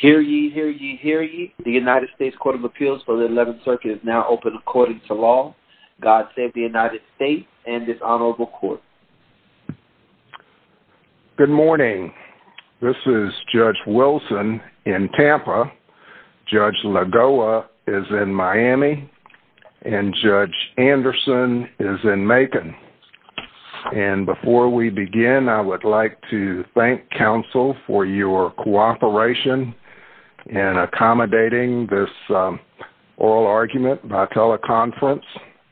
Hear ye, hear ye, hear ye. The United States Court of Appeals for the 11th Circuit is now open according to law. God save the United States and this honorable court. Good morning. This is Judge Wilson in Tampa. Judge Lagoa is in Miami. And Judge Anderson is in Macon. And before we begin, I would like to thank counsel for your cooperation in accommodating this oral argument by teleconference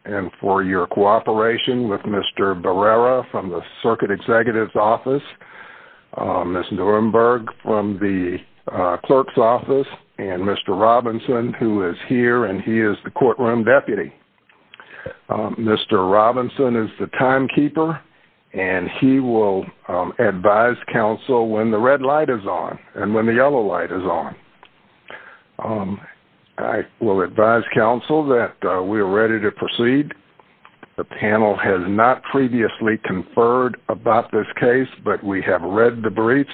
and for your cooperation with Mr. Barrera from the circuit executive's office, Ms. Nuremberg from the clerk's office, and Mr. Robinson who is here and he is the courtroom deputy. Mr. Robinson is the timekeeper and he will advise counsel when the red light is on and when the yellow light is on. I will advise counsel that we are ready to proceed. The panel has not previously conferred about this case, but we have read the briefs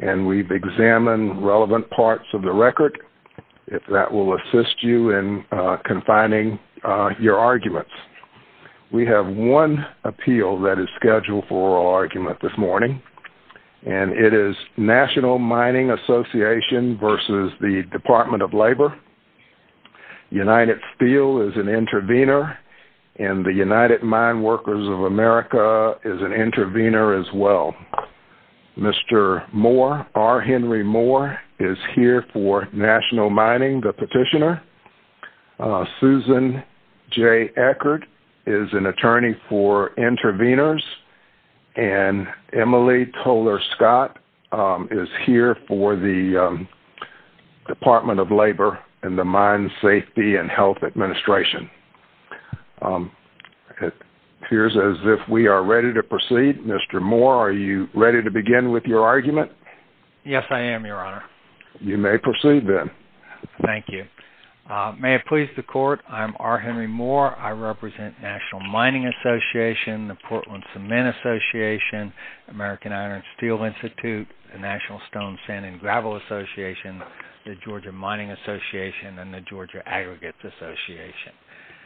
and we've examined relevant parts of the record. If that will assist you in confining your arguments. We have one appeal that is scheduled for oral argument this morning. And it is National Mining Association versus the Department of Labor. United Steel is an intervener and the United Mine Workers of America is an intervener as well. Mr. Moore, R. Henry Moore is here for National Mining, the petitioner. Susan J. Eckert is an attorney for interveners and Emily Toler Scott is here for the Department of Labor and the Mine Safety and Health Administration. It appears as if we are ready to proceed. Mr. Moore, are you ready to begin with your argument? Yes, I am, your honor. You may proceed then. Thank you. May it please the court, I'm R. Henry Moore. I represent National Mining Association, the Portland Cement Association, American Iron and Steel Institute, the National Stone, Sand, and Gravel Association, the Georgia Mining Association, and the Georgia Aggregates Association.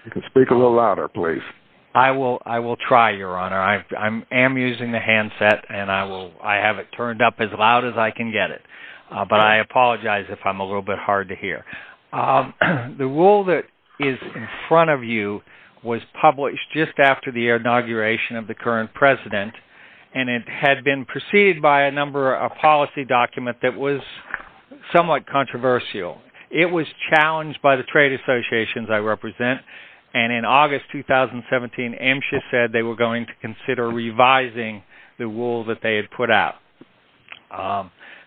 You can speak a little louder, please. I will try, your honor. I am using the handset and I have it turned up as loud as I can get it. But I apologize if I'm a little bit hard to hear. The rule that is in front of you was published just after the inauguration of the current president and it had been preceded by a number of policy documents that was somewhat controversial. It was challenged by the trade associations I represent and in August 2017, MSHA said they were going to consider revising the rule that they had put out.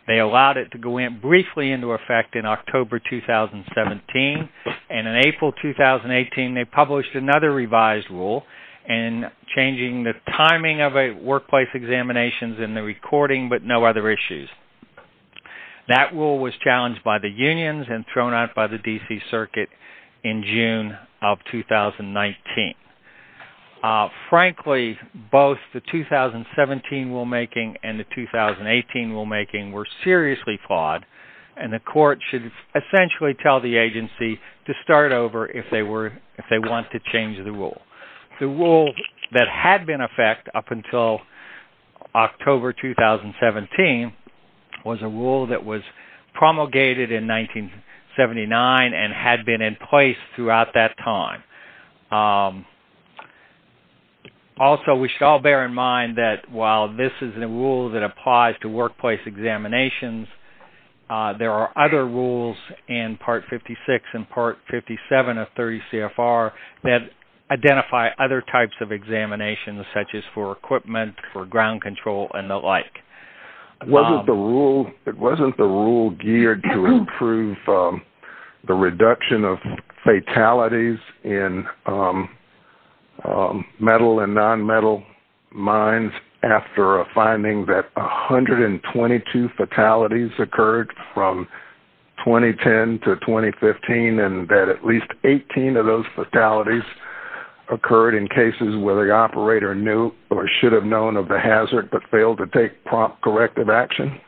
They allowed it to go in briefly into effect in October 2017. And in April 2018, they published another revised rule and changing the timing of a workplace examinations in the recording but no other issues. That rule was challenged by the unions and thrown out by the DC circuit in June of 2019. Frankly, both the 2017 rulemaking and the 2018 rulemaking were seriously flawed and the court should essentially tell the agency to start over if they want to change the rule. The rule that had been in effect up until October 2017 was a rule that was promulgated in 1979 and had been in place throughout that time. Also, we should all bear in mind that while this is a rule that applies to workplace examinations, there are other rules in Part 56 and Part 57 of 30 CFR that identify other types of examinations such as for equipment, for ground control, and the like. It wasn't the rule geared to improve the reduction of fatalities in metal and non-metal mines after a finding that 122 fatalities occurred from 2010 to 2015 and that at least 18 of those fatalities occurred in cases where the operator knew or should have known of the hazard but failed to take prompt corrective action.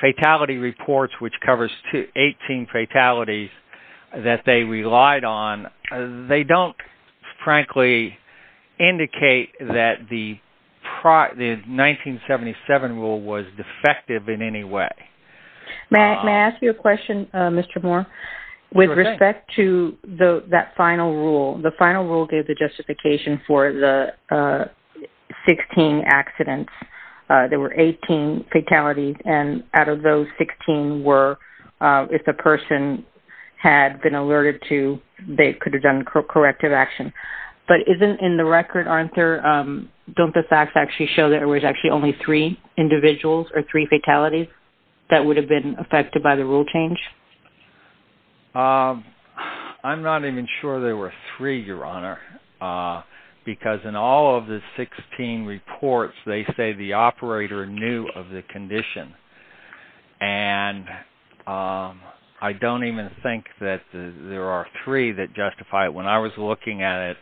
Fatality reports, which covers 18 fatalities that they relied on, they don't frankly indicate that the 1977 rule was defective in any way. May I ask you a question, Mr. Moore? With respect to that final rule, the final rule gave the justification for the 16 accidents. There were 18 fatalities and out of those 16 were if the person had been alerted to, they could have done corrective action. But isn't in the record, don't the facts actually show that there was actually only three individuals or three fatalities that would have been affected by the rule change? I'm not even sure there were three, Your Honor, because in all of the 16 reports, they say the operator knew of the condition. And I don't even think that there are three that justify it. When I was looking at it,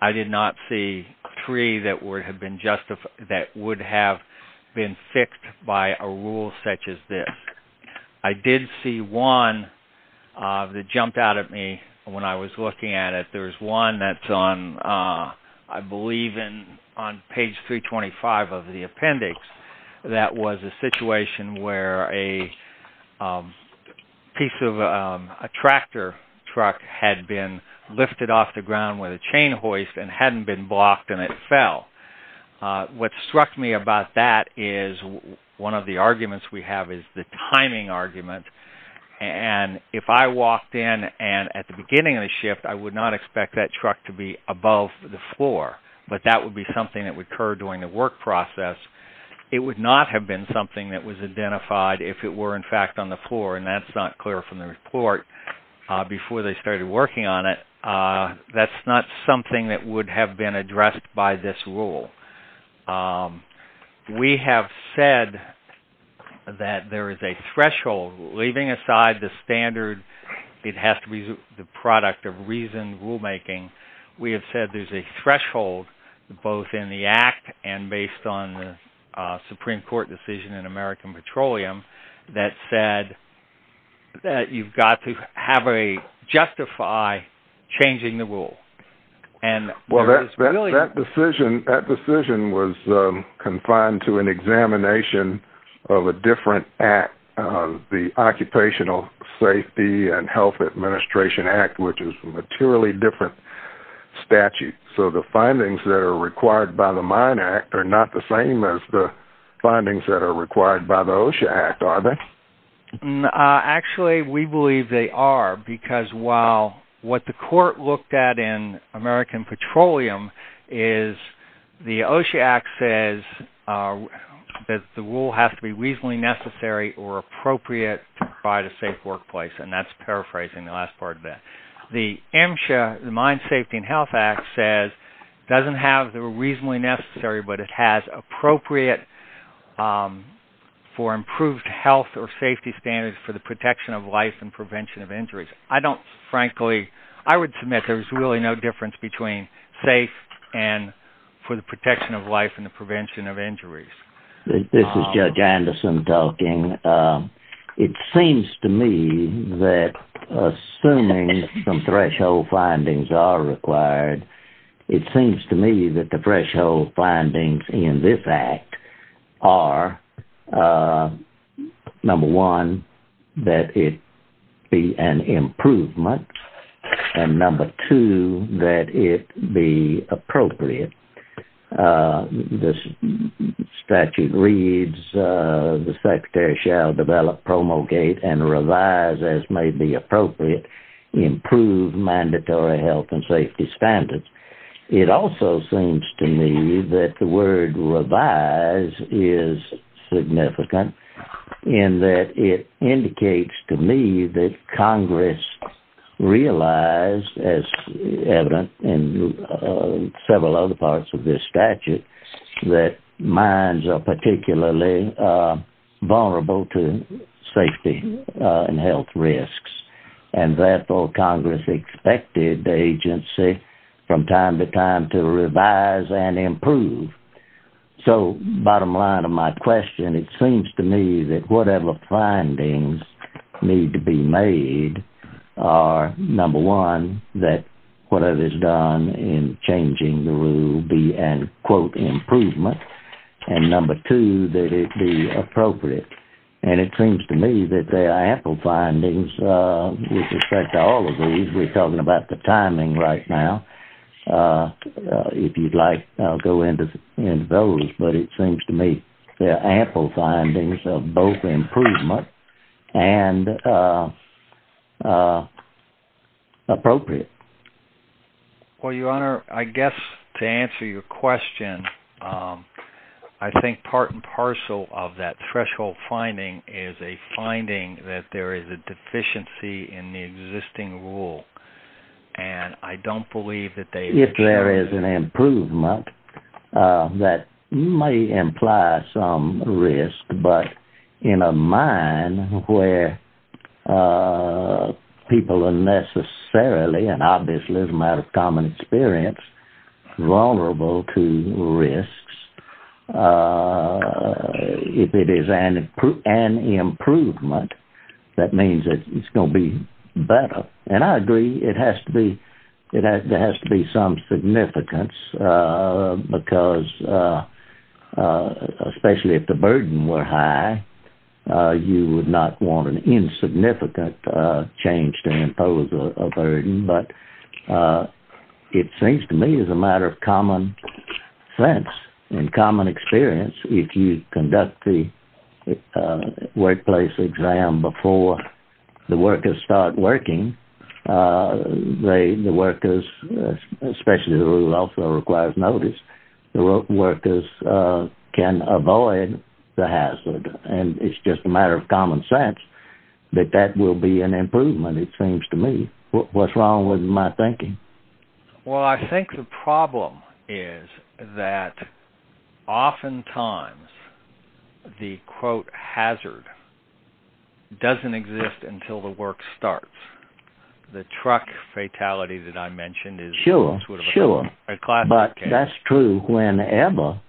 I did not see three that would have been fixed by a rule such as this. I did see one that jumped out at me when I was looking at it. There's one that's on, I believe, on page 325 of the appendix that was a situation where a piece of a tractor truck had been lifted off the ground with a chain hoist and hadn't been blocked and it fell. What struck me about that is one of the arguments we have is the timing argument. And if I walked in and at the beginning of the shift, I would not expect that truck to be above the floor. But that would be something that would occur during the work process. It would not have been something that was identified if it were, in fact, on the floor. And that's not clear from the report before they started working on it. That's not something that would have been addressed by this rule. We have said that there is a threshold. Leaving aside the standard, it has to be the product of reasoned rulemaking. We have said there's a threshold both in the Act and based on the Supreme Court decision in American Petroleum that said that you've got to have a justify changing the rule. That decision was confined to an examination of a different Act, the Occupational Safety and Health Administration Act, which is a materially different statute. So the findings that are required by the Mine Act are not the same as the findings that are required by the OSHA Act, are they? Actually, we believe they are because while what the court looked at in American Petroleum is the OSHA Act says that the rule has to be reasonably necessary or appropriate to provide a safe workplace. And that's paraphrasing the last part of that. The MSHA, the Mine Safety and Health Act, says it doesn't have the reasonably necessary, but it has appropriate for improved health or safety standards for the protection of life and prevention of injuries. I don't, frankly, I would submit there's really no difference between safe and for the protection of life and the prevention of injuries. This is Judge Anderson talking. It seems to me that assuming some threshold findings are required, it seems to me that the threshold findings in this Act are, number one, that it be an improvement, and number two, that it be appropriate. This statute reads, the Secretary shall develop, promulgate, and revise, as may be appropriate, improved mandatory health and safety standards. It also seems to me that the word revise is significant in that it indicates to me that Congress realized, as evident in several other parts of this statute, that mines are particularly vulnerable to safety and health risks. And, therefore, Congress expected the agency, from time to time, to revise and improve. So, bottom line of my question, it seems to me that whatever findings need to be made are, number one, that whatever is done in changing the rule be an, quote, improvement, and, number two, that it be appropriate. And it seems to me that there are ample findings with respect to all of these. We're talking about the timing right now. If you'd like, I'll go into those. But it seems to me there are ample findings of both improvement and appropriate. Well, Your Honor, I guess to answer your question, I think part and parcel of that threshold finding is a finding that there is a deficiency in the existing rule. If there is an improvement, that may imply some risk, but in a mine where people are necessarily, and obviously as a matter of common experience, vulnerable to risks, if it is an improvement, that means it's going to be better. And I agree it has to be some significance because, especially if the burden were high, you would not want an insignificant change to impose a burden. But it seems to me as a matter of common sense and common experience, if you conduct the workplace exam before the workers start working, the workers, especially the rule that also requires notice, the workers can avoid the hazard. And it's just a matter of common sense that that will be an improvement, it seems to me. What's wrong with my thinking? Well, I think the problem is that oftentimes the, quote, hazard doesn't exist until the work starts. The truck fatality that I mentioned is a classic case. Sure, sure. But that's true whenever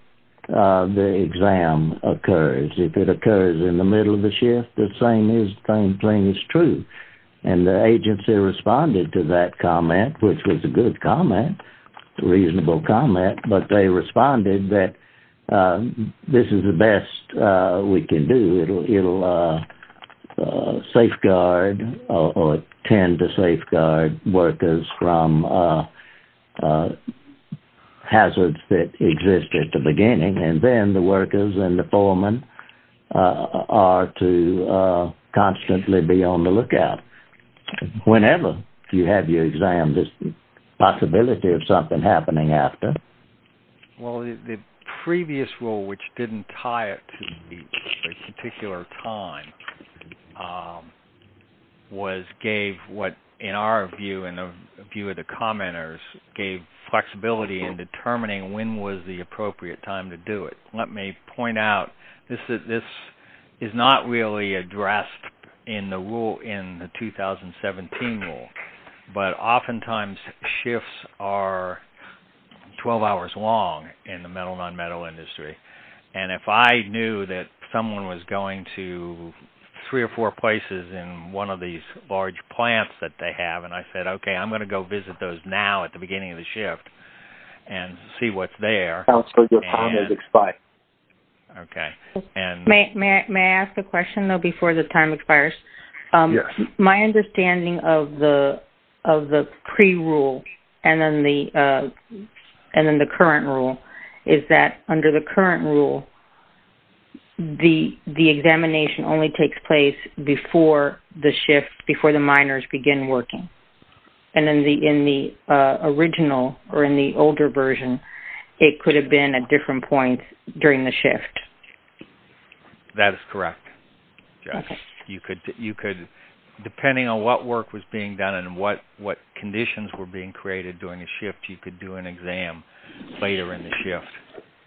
the exam occurs. If it occurs in the middle of the shift, the same thing is true. And the agency responded to that comment, which was a good comment, a reasonable comment, but they responded that this is the best we can do. It'll safeguard or tend to safeguard workers from hazards that exist at the beginning, and then the workers and the foreman are to constantly be on the lookout. Whenever you have your exam, there's the possibility of something happening after. Well, the previous rule, which didn't tie it to the particular time, was gave what, in our view, in the view of the commenters, gave flexibility in determining when was the appropriate time to do it. Let me point out, this is not really addressed in the rule in the 2017 rule, but oftentimes shifts are 12 hours long in the metal-nonmetal industry. And if I knew that someone was going to three or four places in one of these large plants that they have, and I said, okay, I'm going to go visit those now at the beginning of the shift and see what's there. Okay. May I ask a question, though, before the time expires? Yes. My understanding of the pre-rule and then the current rule is that under the current rule, the examination only takes place before the shift, before the miners begin working. And then in the original or in the older version, it could have been at different points during the shift. That is correct. Okay. You could, depending on what work was being done and what conditions were being created during the shift, you could do an exam later in the shift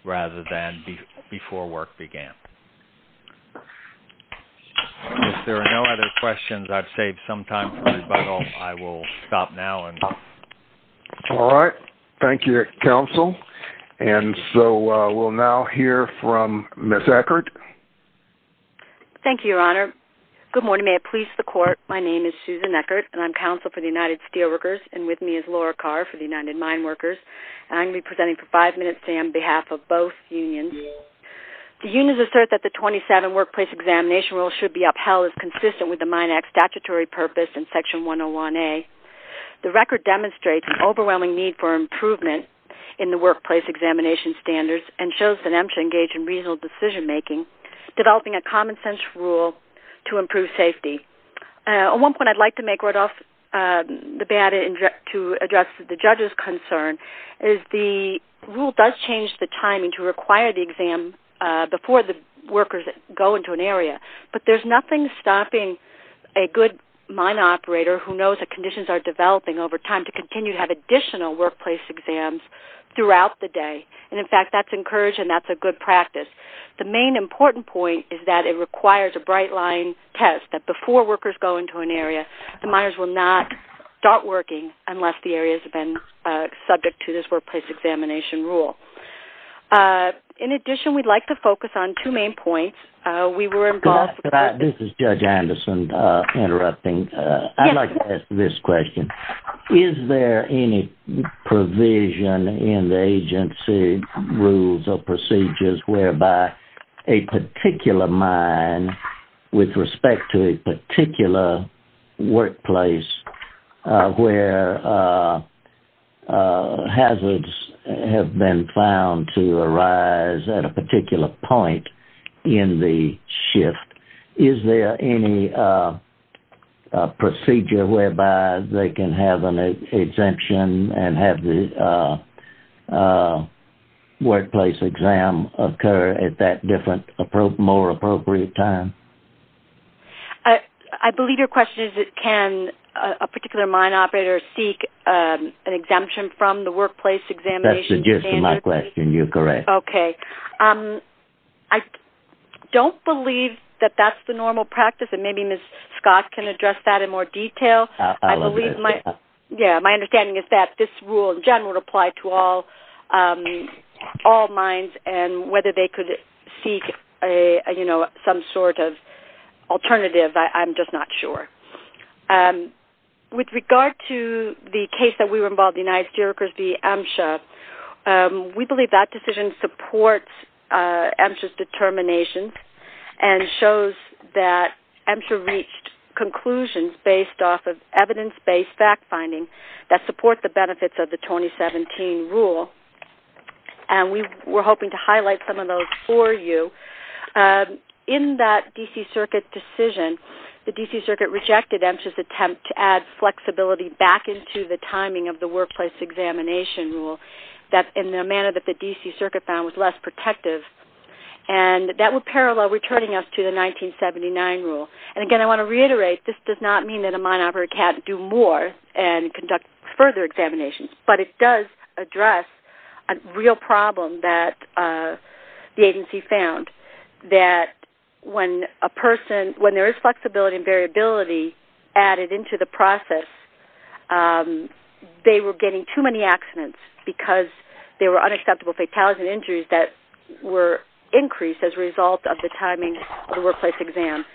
rather than before work began. If there are no other questions, I've saved some time for rebuttal. I will stop now. All right. Thank you, Counsel. And so we'll now hear from Ms. Eckert. Thank you, Your Honor. Good morning. May it please the Court. My name is Susan Eckert, and I'm Counsel for the United Steelworkers. And with me is Laura Carr for the United Mine Workers. And I'm going to be presenting for five minutes today on behalf of both unions. The unions assert that the 27 workplace examination rules should be upheld as consistent with the Mine Act statutory purpose in Section 101A. The record demonstrates an overwhelming need for improvement in the workplace examination standards and shows that M should engage in reasonable decision-making, developing a common-sense rule to improve safety. At one point I'd like to make right off the bat to address the judge's concern, is the rule does change the timing to require the exam before the workers go into an area, but there's nothing stopping a good mine operator who knows that conditions are developing over time to continue to have additional workplace exams throughout the day. And, in fact, that's encouraged and that's a good practice. The main important point is that it requires a bright-line test, that before workers go into an area, the miners will not start working unless the area has been subject to this workplace examination rule. In addition, we'd like to focus on two main points. This is Judge Anderson interrupting. I'd like to ask this question. Is there any provision in the agency rules or procedures whereby a particular mine with respect to a particular workplace where hazards have been found to arise at a particular point in the shift, is there any procedure whereby they can have an exemption and have the workplace exam occur at that different, more appropriate time? I believe your question is can a particular mine operator seek an exemption from the workplace examination standard? That's the gist of my question. You're correct. Okay. I don't believe that that's the normal practice, and maybe Ms. Scott can address that in more detail. My understanding is that this rule, in general, would apply to all mines and whether they could seek some sort of alternative, I'm just not sure. With regard to the case that we were involved in, the United Steelworkers v. AMSHA, we believe that decision supports AMSHA's determination and shows that AMSHA reached conclusions based off of evidence-based fact-finding that support the benefits of the 2017 rule, and we're hoping to highlight some of those for you. In that D.C. Circuit decision, the D.C. Circuit rejected AMSHA's attempt to add flexibility back into the timing of the workplace examination rule in the manner that the D.C. Circuit found was less protective, and that would parallel returning us to the 1979 rule. And again, I want to reiterate, this does not mean that a mine operator can't do more and conduct further examinations, but it does address a real problem that the agency found, that when a person, when there is flexibility and variability added into the process, they were getting too many accidents because there were unacceptable fatalities and injuries that were increased as a result of the timing of the workplace exam.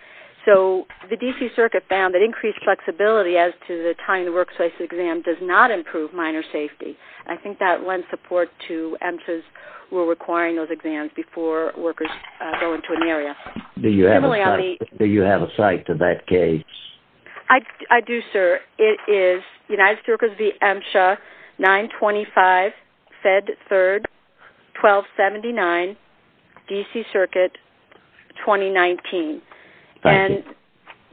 So the D.C. Circuit found that increased flexibility as to the timing of the workplace exam does not improve miner safety. I think that lends support to AMSHA's rule requiring those exams before workers go into an area. Do you have a cite to that case? I do, sir. It is United Circuits v. AMSHA 925, Fed 3rd, 1279, D.C. Circuit, 2019. Thank you.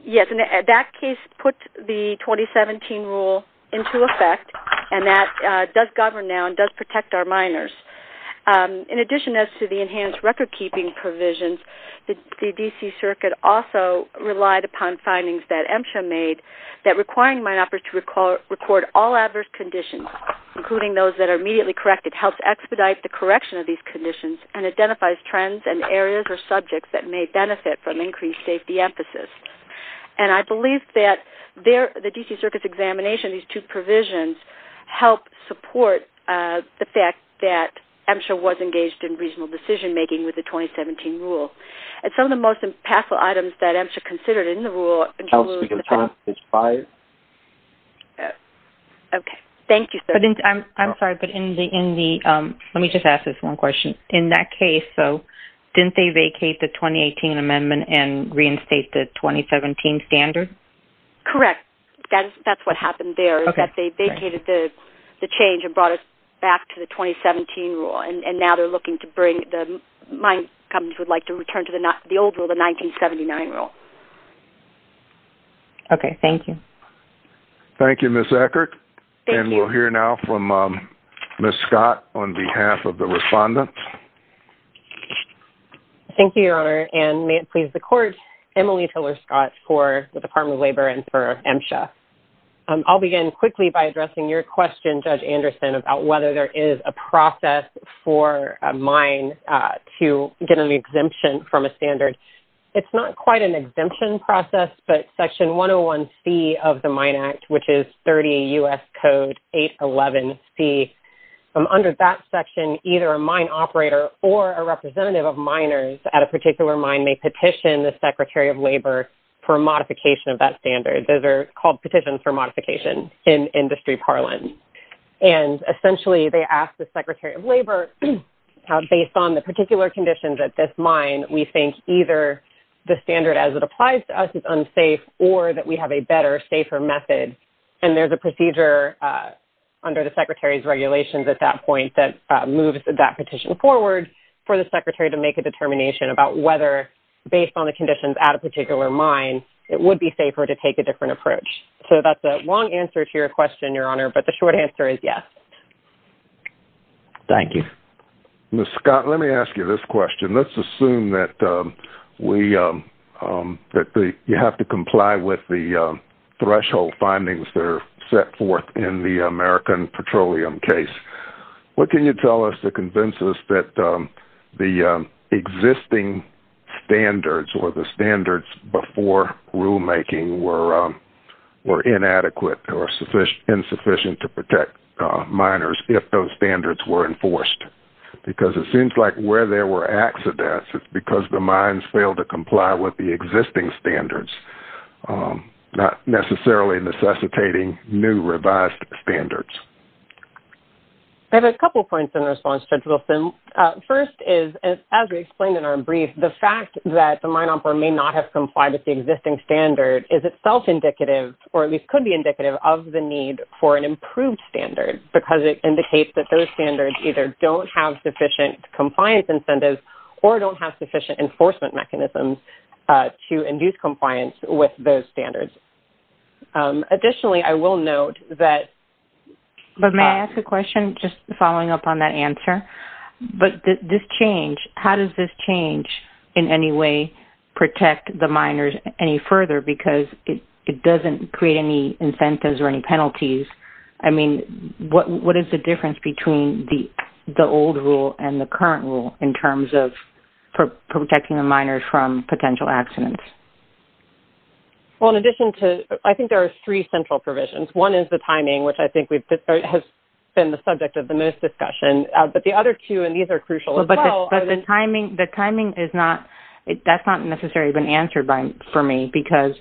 Yes, and that case put the 2017 rule into effect, and that does govern now and does protect our miners. In addition as to the enhanced recordkeeping provisions, the D.C. Circuit also relied upon findings that AMSHA made that requiring mine operators to record all adverse conditions, including those that are immediately corrected, helps expedite the correction of these conditions and identifies trends and areas or subjects that may benefit from increased safety emphasis. And I believe that the D.C. Circuit's examination of these two provisions helped support the fact that AMSHA was engaged in reasonable decision-making with the 2017 rule. And some of the most impactful items that AMSHA considered in the rule- I'll speak on page five. Okay. Thank you, sir. I'm sorry, but in the- let me just ask this one question. In that case, though, didn't they vacate the 2018 amendment and reinstate the 2017 standard? Correct. That's what happened there. Okay. They vacated the change and brought it back to the 2017 rule, and now they're looking to bring the- mine companies would like to return to the old rule, the 1979 rule. Okay. Thank you. Thank you, Ms. Eckert. Thank you. We'll hear now from Ms. Scott on behalf of the respondents. Thank you, Your Honor. And may it please the Court, Emily Tiller-Scott for the Department of Labor and for AMSHA. I'll begin quickly by addressing your question, Judge Anderson, about whether there is a process for a mine to get an exemption from a standard. It's not quite an exemption process, but Section 101C of the Mine Act, which is 30 U.S. Code 811C, under that section, either a mine operator or a representative of miners at a particular mine may petition the Secretary of Labor for a modification of that standard. Those are called petitions for modification in industry parlance. And essentially, they ask the Secretary of Labor, based on the particular conditions at this mine, we think either the standard as it applies to us is unsafe or that we have a better, safer method. And there's a procedure under the Secretary's regulations at that point that moves that petition forward for the Secretary to make a determination about whether, based on the conditions at a particular mine, it would be safer to take a different approach. So that's a long answer to your question, Your Honor, but the short answer is yes. Thank you. Ms. Scott, let me ask you this question. Let's assume that you have to comply with the threshold findings that are set forth in the American Petroleum case. What can you tell us to convince us that the existing standards or the standards before rulemaking were inadequate or insufficient to protect miners if those standards were enforced? Because it seems like where there were accidents, it's because the mines failed to comply with the existing standards, not necessarily necessitating new revised standards. I have a couple points in response, Judge Wilson. First is, as we explained in our brief, the fact that the mine operator may not have complied with the existing standard is itself indicative, or at least could be indicative, of the need for an improved standard because it indicates that those standards either don't have sufficient compliance incentives or don't have sufficient enforcement mechanisms to induce compliance with those standards. Additionally, I will note that... But may I ask a question just following up on that answer? But this change, how does this change in any way protect the miners any further? Because it doesn't create any incentives or any penalties. I mean, what is the difference between the old rule and the current rule in terms of protecting the miners from potential accidents? Well, in addition to... I think there are three central provisions. One is the timing, which I think has been the subject of the most discussion. But the other two, and these are crucial as well... But the timing is not... That's not necessarily been answered for me because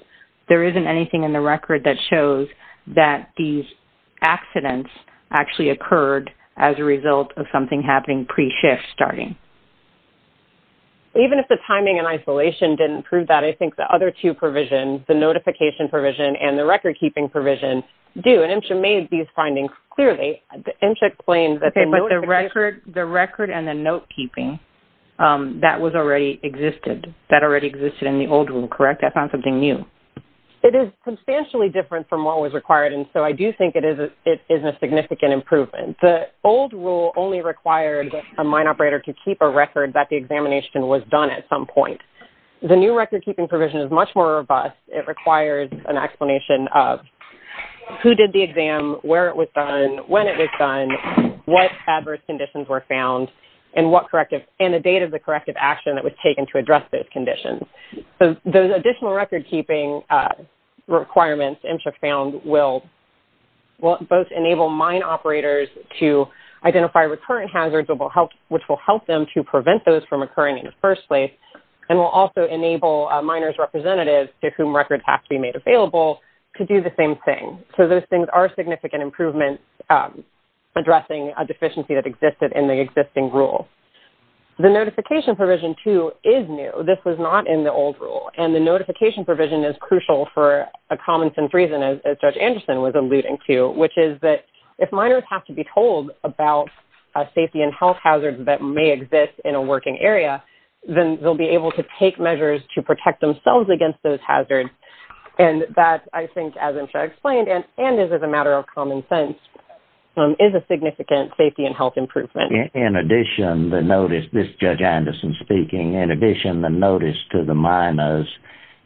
there isn't anything in the record that shows that these accidents actually occurred as a result of something happening pre-shift starting. Even if the timing and isolation didn't prove that, I think the other two provisions, the notification provision and the record-keeping provision, do. And MSHA made these findings clearly. MSHA claims that the notification... Okay, but the record and the note-keeping, that was already existed. That already existed in the old rule, correct? That's not something new. It is substantially different from what was required, and so I do think it is a significant improvement. The old rule only required a mine operator to keep a record that the examination was done at some point. The new record-keeping provision is much more robust. It requires an explanation of who did the exam, where it was done, when it was done, what adverse conditions were found, and what corrective... and the date of the corrective action that was taken to address those conditions. So those additional record-keeping requirements, MSHA found, will both enable mine operators to identify recurrent hazards, which will help them to prevent those from occurring in the first place, and will also enable miners' representatives, to whom records have to be made available, to do the same thing. So those things are significant improvements addressing a deficiency that existed in the existing rule. The notification provision, too, is new. This was not in the old rule, and the notification provision is crucial for a common-sense reason, as Judge Anderson was alluding to, which is that if miners have to be told about safety and health hazards that may exist in a working area, then they'll be able to take measures to protect themselves against those hazards, and that, I think, as MSHA explained, and is a matter of common sense, is a significant safety and health improvement. In addition, the notice... this is Judge Anderson speaking. In addition, the notice to the miners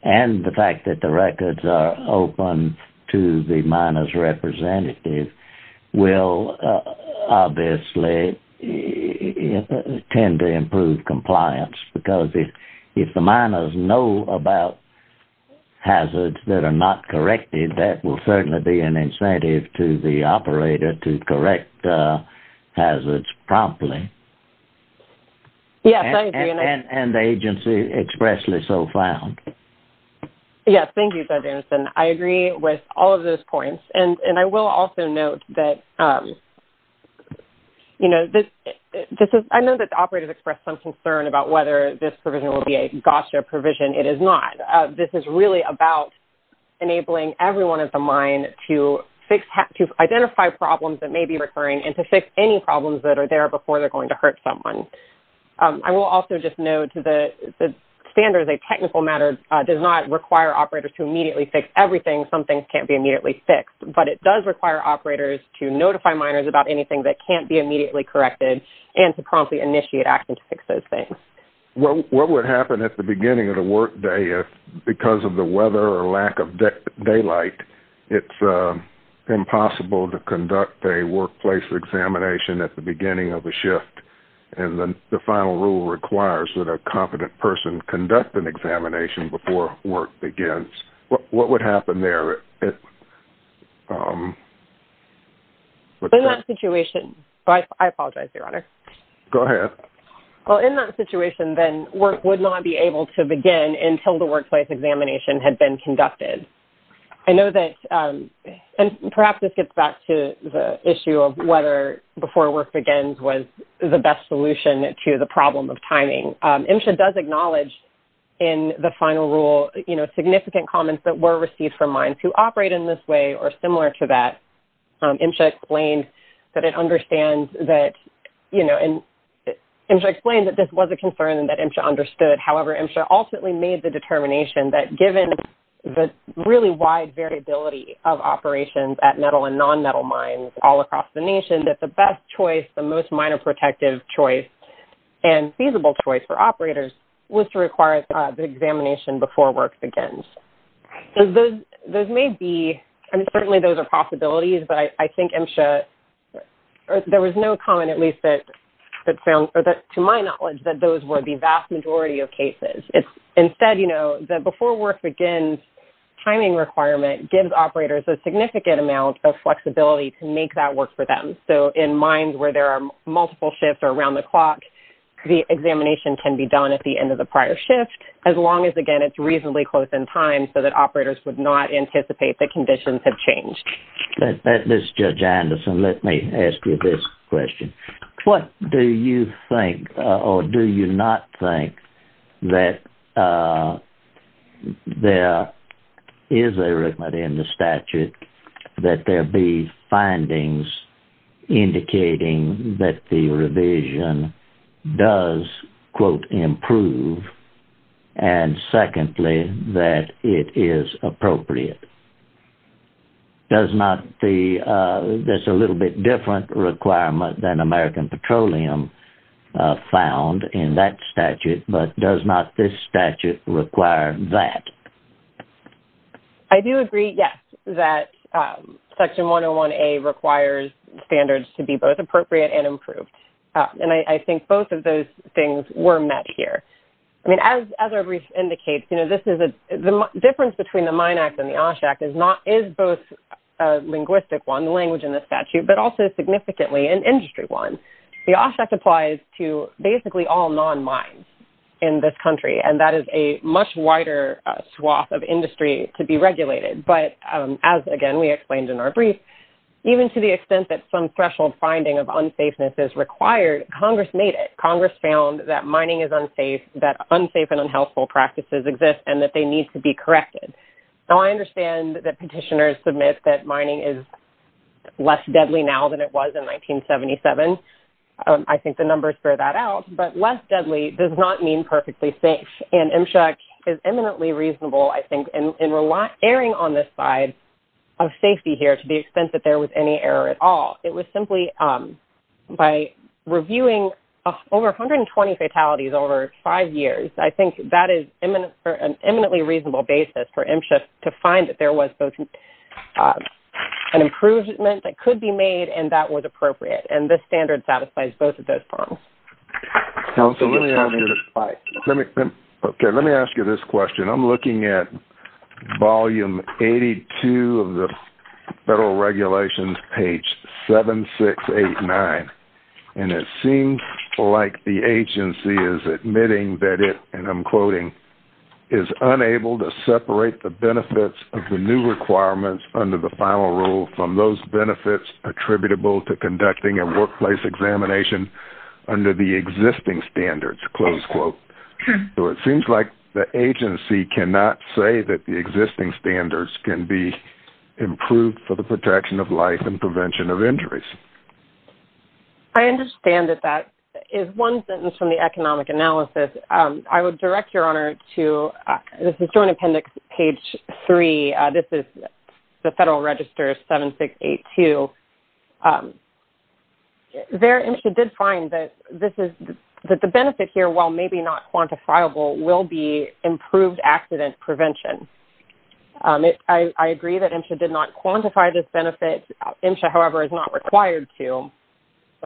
and the fact that the records are open to the miners' representative will obviously tend to improve compliance, because if the miners know about hazards that are not corrected, that will certainly be an incentive to the operator to correct hazards promptly. Yes, I agree. And the agency expressly so found. Yes, thank you, Judge Anderson. I agree with all of those points, and I will also note that, you know, this is... I know that the operators expressed some concern about whether this provision will be a GOSTRA provision. It is not. This is really about enabling everyone at the mine to identify problems that may be recurring and to fix any problems that are there before they're going to hurt someone. I will also just note that the standard, as a technical matter, does not require operators to immediately fix everything. Some things can't be immediately fixed, but it does require operators to notify miners about anything that can't be immediately corrected and to promptly initiate action to fix those things. What would happen at the beginning of the workday if, because of the weather or lack of daylight, it's impossible to conduct a workplace examination at the beginning of the shift, and the final rule requires that a competent person conduct an examination before work begins? What would happen there? In that situation... I apologize, Your Honor. Go ahead. Well, in that situation, then, work would not be able to begin until the workplace examination had been conducted. I know that, and perhaps this gets back to the issue of whether before work begins was the best solution to the problem of timing. MSHA does acknowledge in the final rule significant comments that were received from mines who operate in this way or similar to that. MSHA explained that this was a concern and that MSHA understood. However, MSHA ultimately made the determination that given the really wide variability of operations at metal and non-metal mines all across the nation, that the best choice, the most minor protective choice, and feasible choice for operators was to require the examination before work begins. Those may be... I mean, certainly those are possibilities, but I think MSHA... There was no comment, at least to my knowledge, that those were the vast majority of cases. Instead, the before work begins timing requirement gives operators a significant amount of flexibility to make that work for them. So in mines where there are multiple shifts around the clock, the examination can be done at the end of the prior shift as long as, again, it's reasonably close in time so that operators would not anticipate that conditions have changed. This is Judge Anderson. Let me ask you this question. What do you think, or do you not think, that there is a requirement in the statute that there be findings indicating that the revision does, quote, improve and, secondly, that it is appropriate? Does not the... That's a little bit different requirement than American Petroleum found in that statute, but does not this statute require that? I do agree, yes, that Section 101A requires standards to be both appropriate and improved, and I think both of those things were met here. I mean, as our brief indicates, the difference between the Mine Act and the OSHA Act is both a linguistic one, the language in the statute, but also significantly an industry one. The OSHA Act applies to basically all non-mines in this country, and that is a much wider swath of industry to be regulated, but as, again, we explained in our brief, even to the extent that some threshold finding of unsafeness is required, Congress made it. Congress found that mining is unsafe, that unsafe and unhealthful practices exist, and that they need to be corrected. Now, I understand that petitioners submit that mining is less deadly now than it was in 1977. I think the numbers bear that out, but less deadly does not mean perfectly safe, and MSHA is eminently reasonable, I think, in erring on this side of safety here to the extent that there was any error at all. It was simply by reviewing over 120 fatalities over five years, I think that is an eminently reasonable basis for MSHA to find that there was both an improvement that could be made and that was appropriate, and this standard satisfies both of those problems. Absolutely. Okay, let me ask you this question. I'm looking at volume 82 of the federal regulations, page 7689, and it seems like the agency is admitting that it, and I'm quoting, is unable to separate the benefits of the new requirements under the final rule from those benefits attributable to conducting a workplace examination under the existing standards, close quote. So it seems like the agency cannot say that the existing standards can be improved for the protection of life and prevention of injuries. I understand that that is one sentence from the economic analysis. I would direct your honor to the Joint Appendix, page 3. This is the Federal Register 7682. There MSHA did find that the benefit here, while maybe not quantifiable, will be improved accident prevention. I agree that MSHA did not quantify this benefit. MSHA, however, is not required to.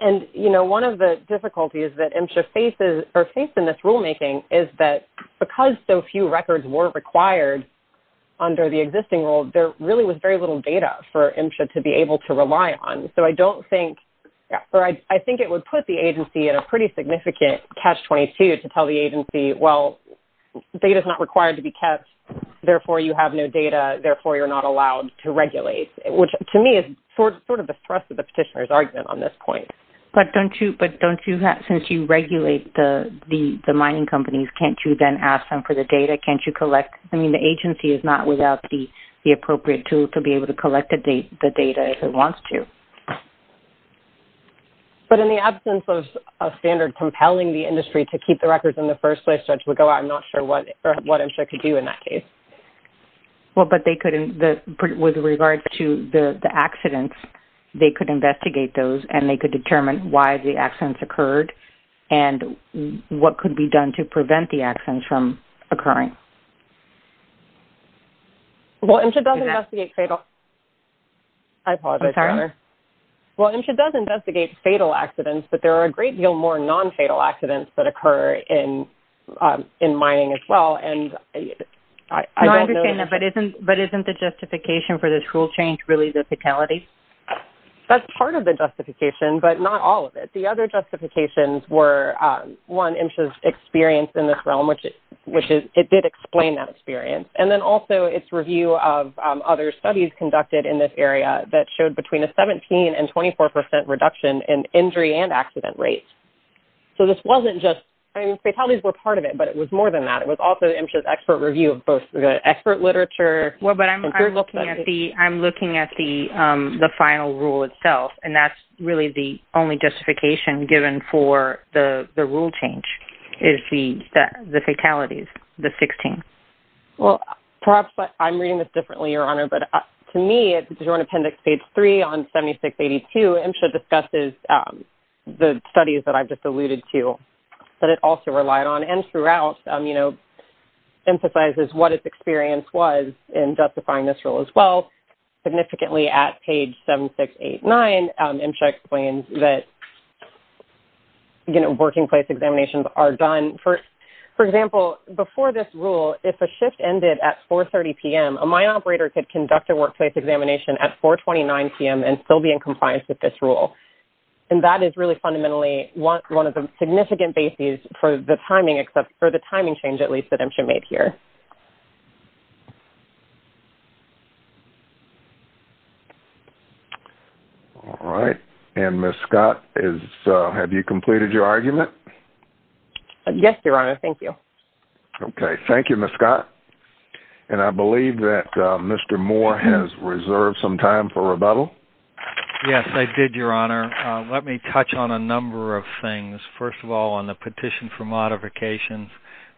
And, you know, one of the difficulties that MSHA faces or faced in this rulemaking is that because so few records were required under the existing rule, there really was very little data for MSHA to be able to rely on. So I don't think, or I think it would put the agency in a pretty significant catch-22 to tell the agency, well, data is not required to be kept, therefore you have no data, therefore you're not allowed to regulate, which to me is sort of the thrust of the petitioner's argument on this point. But don't you, since you regulate the mining companies, can't you then ask them for the data? Can't you collect? I mean, the agency is not without the appropriate tool to be able to collect the data if it wants to. But in the absence of a standard compelling the industry to keep the records in the first place, I'm not sure what MSHA could do in that case. Well, but they could, with regard to the accidents, they could investigate those and they could determine why the accidents occurred and what could be done to prevent the accidents from occurring. Well, MSHA does investigate fatal... I apologize. Well, MSHA does investigate fatal accidents, but there are a great deal more non-fatal accidents that occur in mining as well. I understand that, but isn't the justification for this rule change really the fatality? That's part of the justification, but not all of it. The other justifications were, one, MSHA's experience in this realm, which it did explain that experience, and then also its review of other studies conducted in this area that showed between a 17% and 24% reduction in injury and accident rates. So this wasn't just... I mean, fatalities were part of it, but it was more than that. It was also MSHA's expert review of both the expert literature... Well, but I'm looking at the final rule itself, and that's really the only justification given for the rule change is the fatalities, the 16. Well, perhaps I'm reading this differently, Your Honor, but to me, at the Joint Appendix, Page 3 on 7682, MSHA discusses the studies that I've just alluded to that it also relied on and throughout, you know, emphasizes what its experience was in justifying this rule as well. Significantly at Page 7689, MSHA explains that, you know, working place examinations are done. For example, before this rule, if a shift ended at 4.30 p.m., a mine operator could conduct a workplace examination at 4.29 p.m. and still be in compliance with this rule, and that is really fundamentally one of the significant bases for the timing change, at least, that MSHA made here. All right. And, Ms. Scott, have you completed your argument? Yes, Your Honor. Thank you. Okay. Thank you, Ms. Scott. Yes, I did, Your Honor. Let me touch on a number of things. First of all, on the petition for modifications,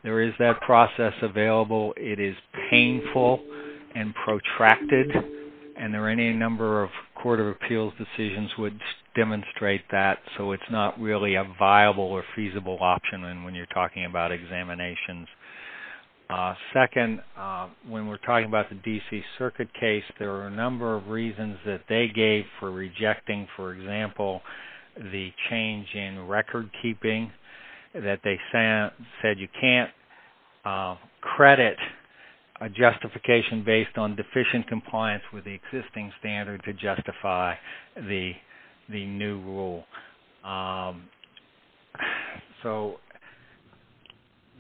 there is that process available. It is painful and protracted, and there are any number of Court of Appeals decisions which demonstrate that, so it's not really a viable or feasible option when you're talking about examinations. Second, when we're talking about the D.C. Circuit case, there are a number of reasons that they gave for rejecting, for example, the change in recordkeeping, that they said you can't credit a justification based on deficient compliance with the existing standard to justify the new rule. So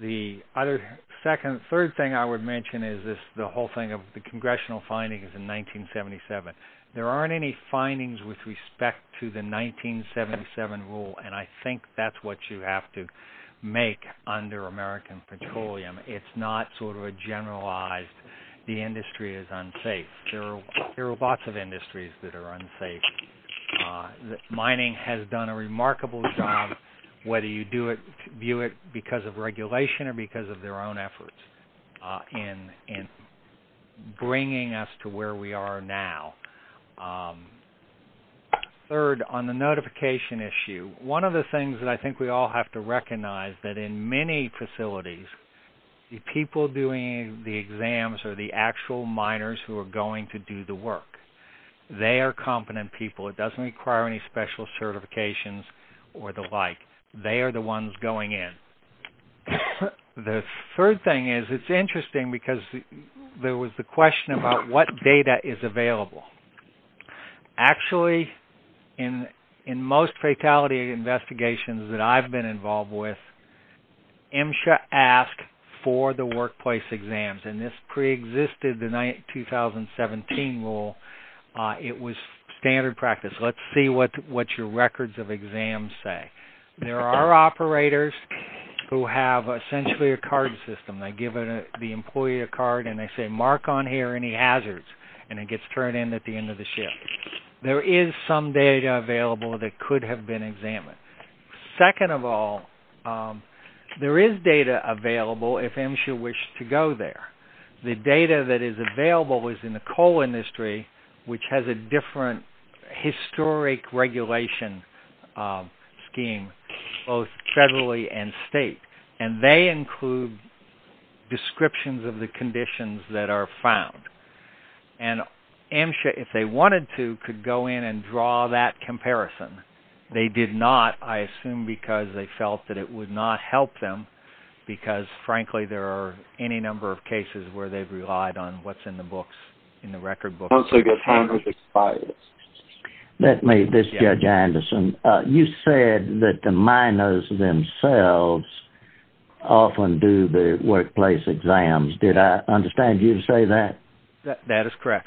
the other second, third thing I would mention is the whole thing of the congressional findings in 1977. There aren't any findings with respect to the 1977 rule, and I think that's what you have to make under American Petroleum. It's not sort of a generalized, the industry is unsafe. There are lots of industries that are unsafe. Mining has done a remarkable job, whether you view it because of regulation or because of their own efforts in bringing us to where we are now. Third, on the notification issue, one of the things that I think we all have to recognize that in many facilities, the people doing the exams are the actual miners who are going to do the work. They are competent people. It doesn't require any special certifications or the like. They are the ones going in. The third thing is it's interesting because there was the question about what data is available. Actually, in most fatality investigations that I've been involved with, MSHA asked for the workplace exams, and this preexisted the 2017 rule. It was standard practice. Let's see what your records of exams say. There are operators who have essentially a card system. They give the employee a card, and they say mark on here any hazards, and it gets thrown in at the end of the shift. There is some data available that could have been examined. Second of all, there is data available if MSHA wished to go there. The data that is available is in the coal industry, which has a different historic regulation scheme, both federally and state, and they include descriptions of the conditions that are found. MSHA, if they wanted to, could go in and draw that comparison. They did not, I assume because they felt that it would not help them because, frankly, there are any number of cases where they've relied on what's in the record books. This is Judge Anderson. You said that the minors themselves often do the workplace exams. Did I understand you to say that? That is correct.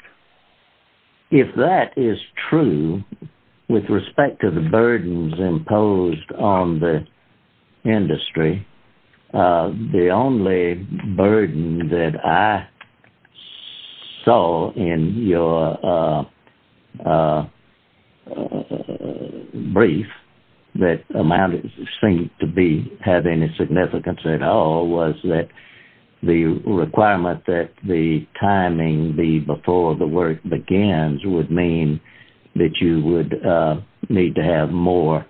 If that is true with respect to the burdens imposed on the industry, the only burden that I saw in your brief that seemed to have any significance at all was that the requirement that the timing be before the work begins would mean that you would need to have more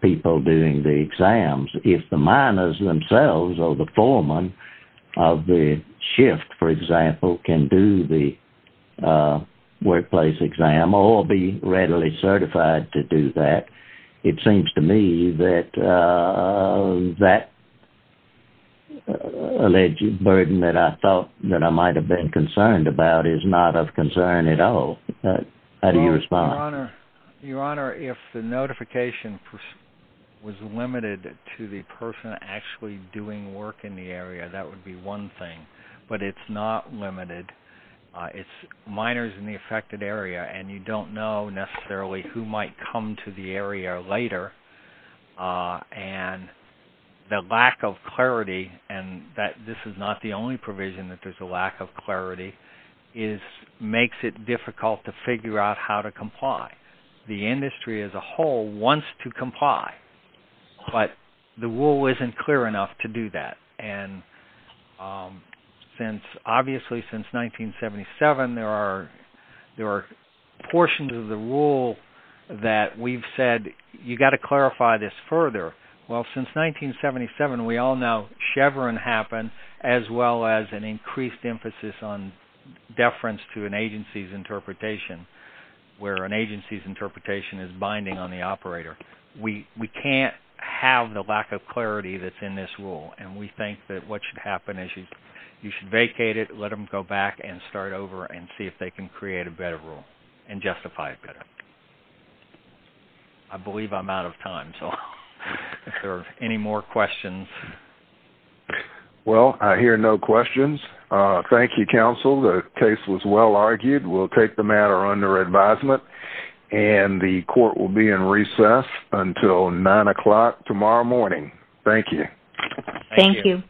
people doing the exams if the minors themselves or the foreman of the shift, for example, can do the workplace exam or be readily certified to do that. It seems to me that that alleged burden that I thought that I might have been concerned about is not of concern at all. How do you respond? Your Honor, if the notification was limited to the person actually doing work in the area, that would be one thing. But it's not limited. It's minors in the affected area, and you don't know necessarily who might come to the area later. The lack of clarity, and this is not the only provision that there's a lack of clarity, makes it difficult to figure out how to comply. The industry as a whole wants to comply, but the rule isn't clear enough to do that. Obviously, since 1977, there are portions of the rule that we've said, you've got to clarify this further. Well, since 1977, we all know Chevron happened as well as an increased emphasis on deference to an agency's interpretation where an agency's interpretation is binding on the operator. We can't have the lack of clarity that's in this rule, and we think that what should happen is you should vacate it, let them go back and start over and see if they can create a better rule and justify it better. I believe I'm out of time, so if there are any more questions. Well, I hear no questions. Thank you, counsel. The case was well argued. We'll take the matter under advisement, and the court will be in recess until 9 o'clock tomorrow morning. Thank you. Thank you.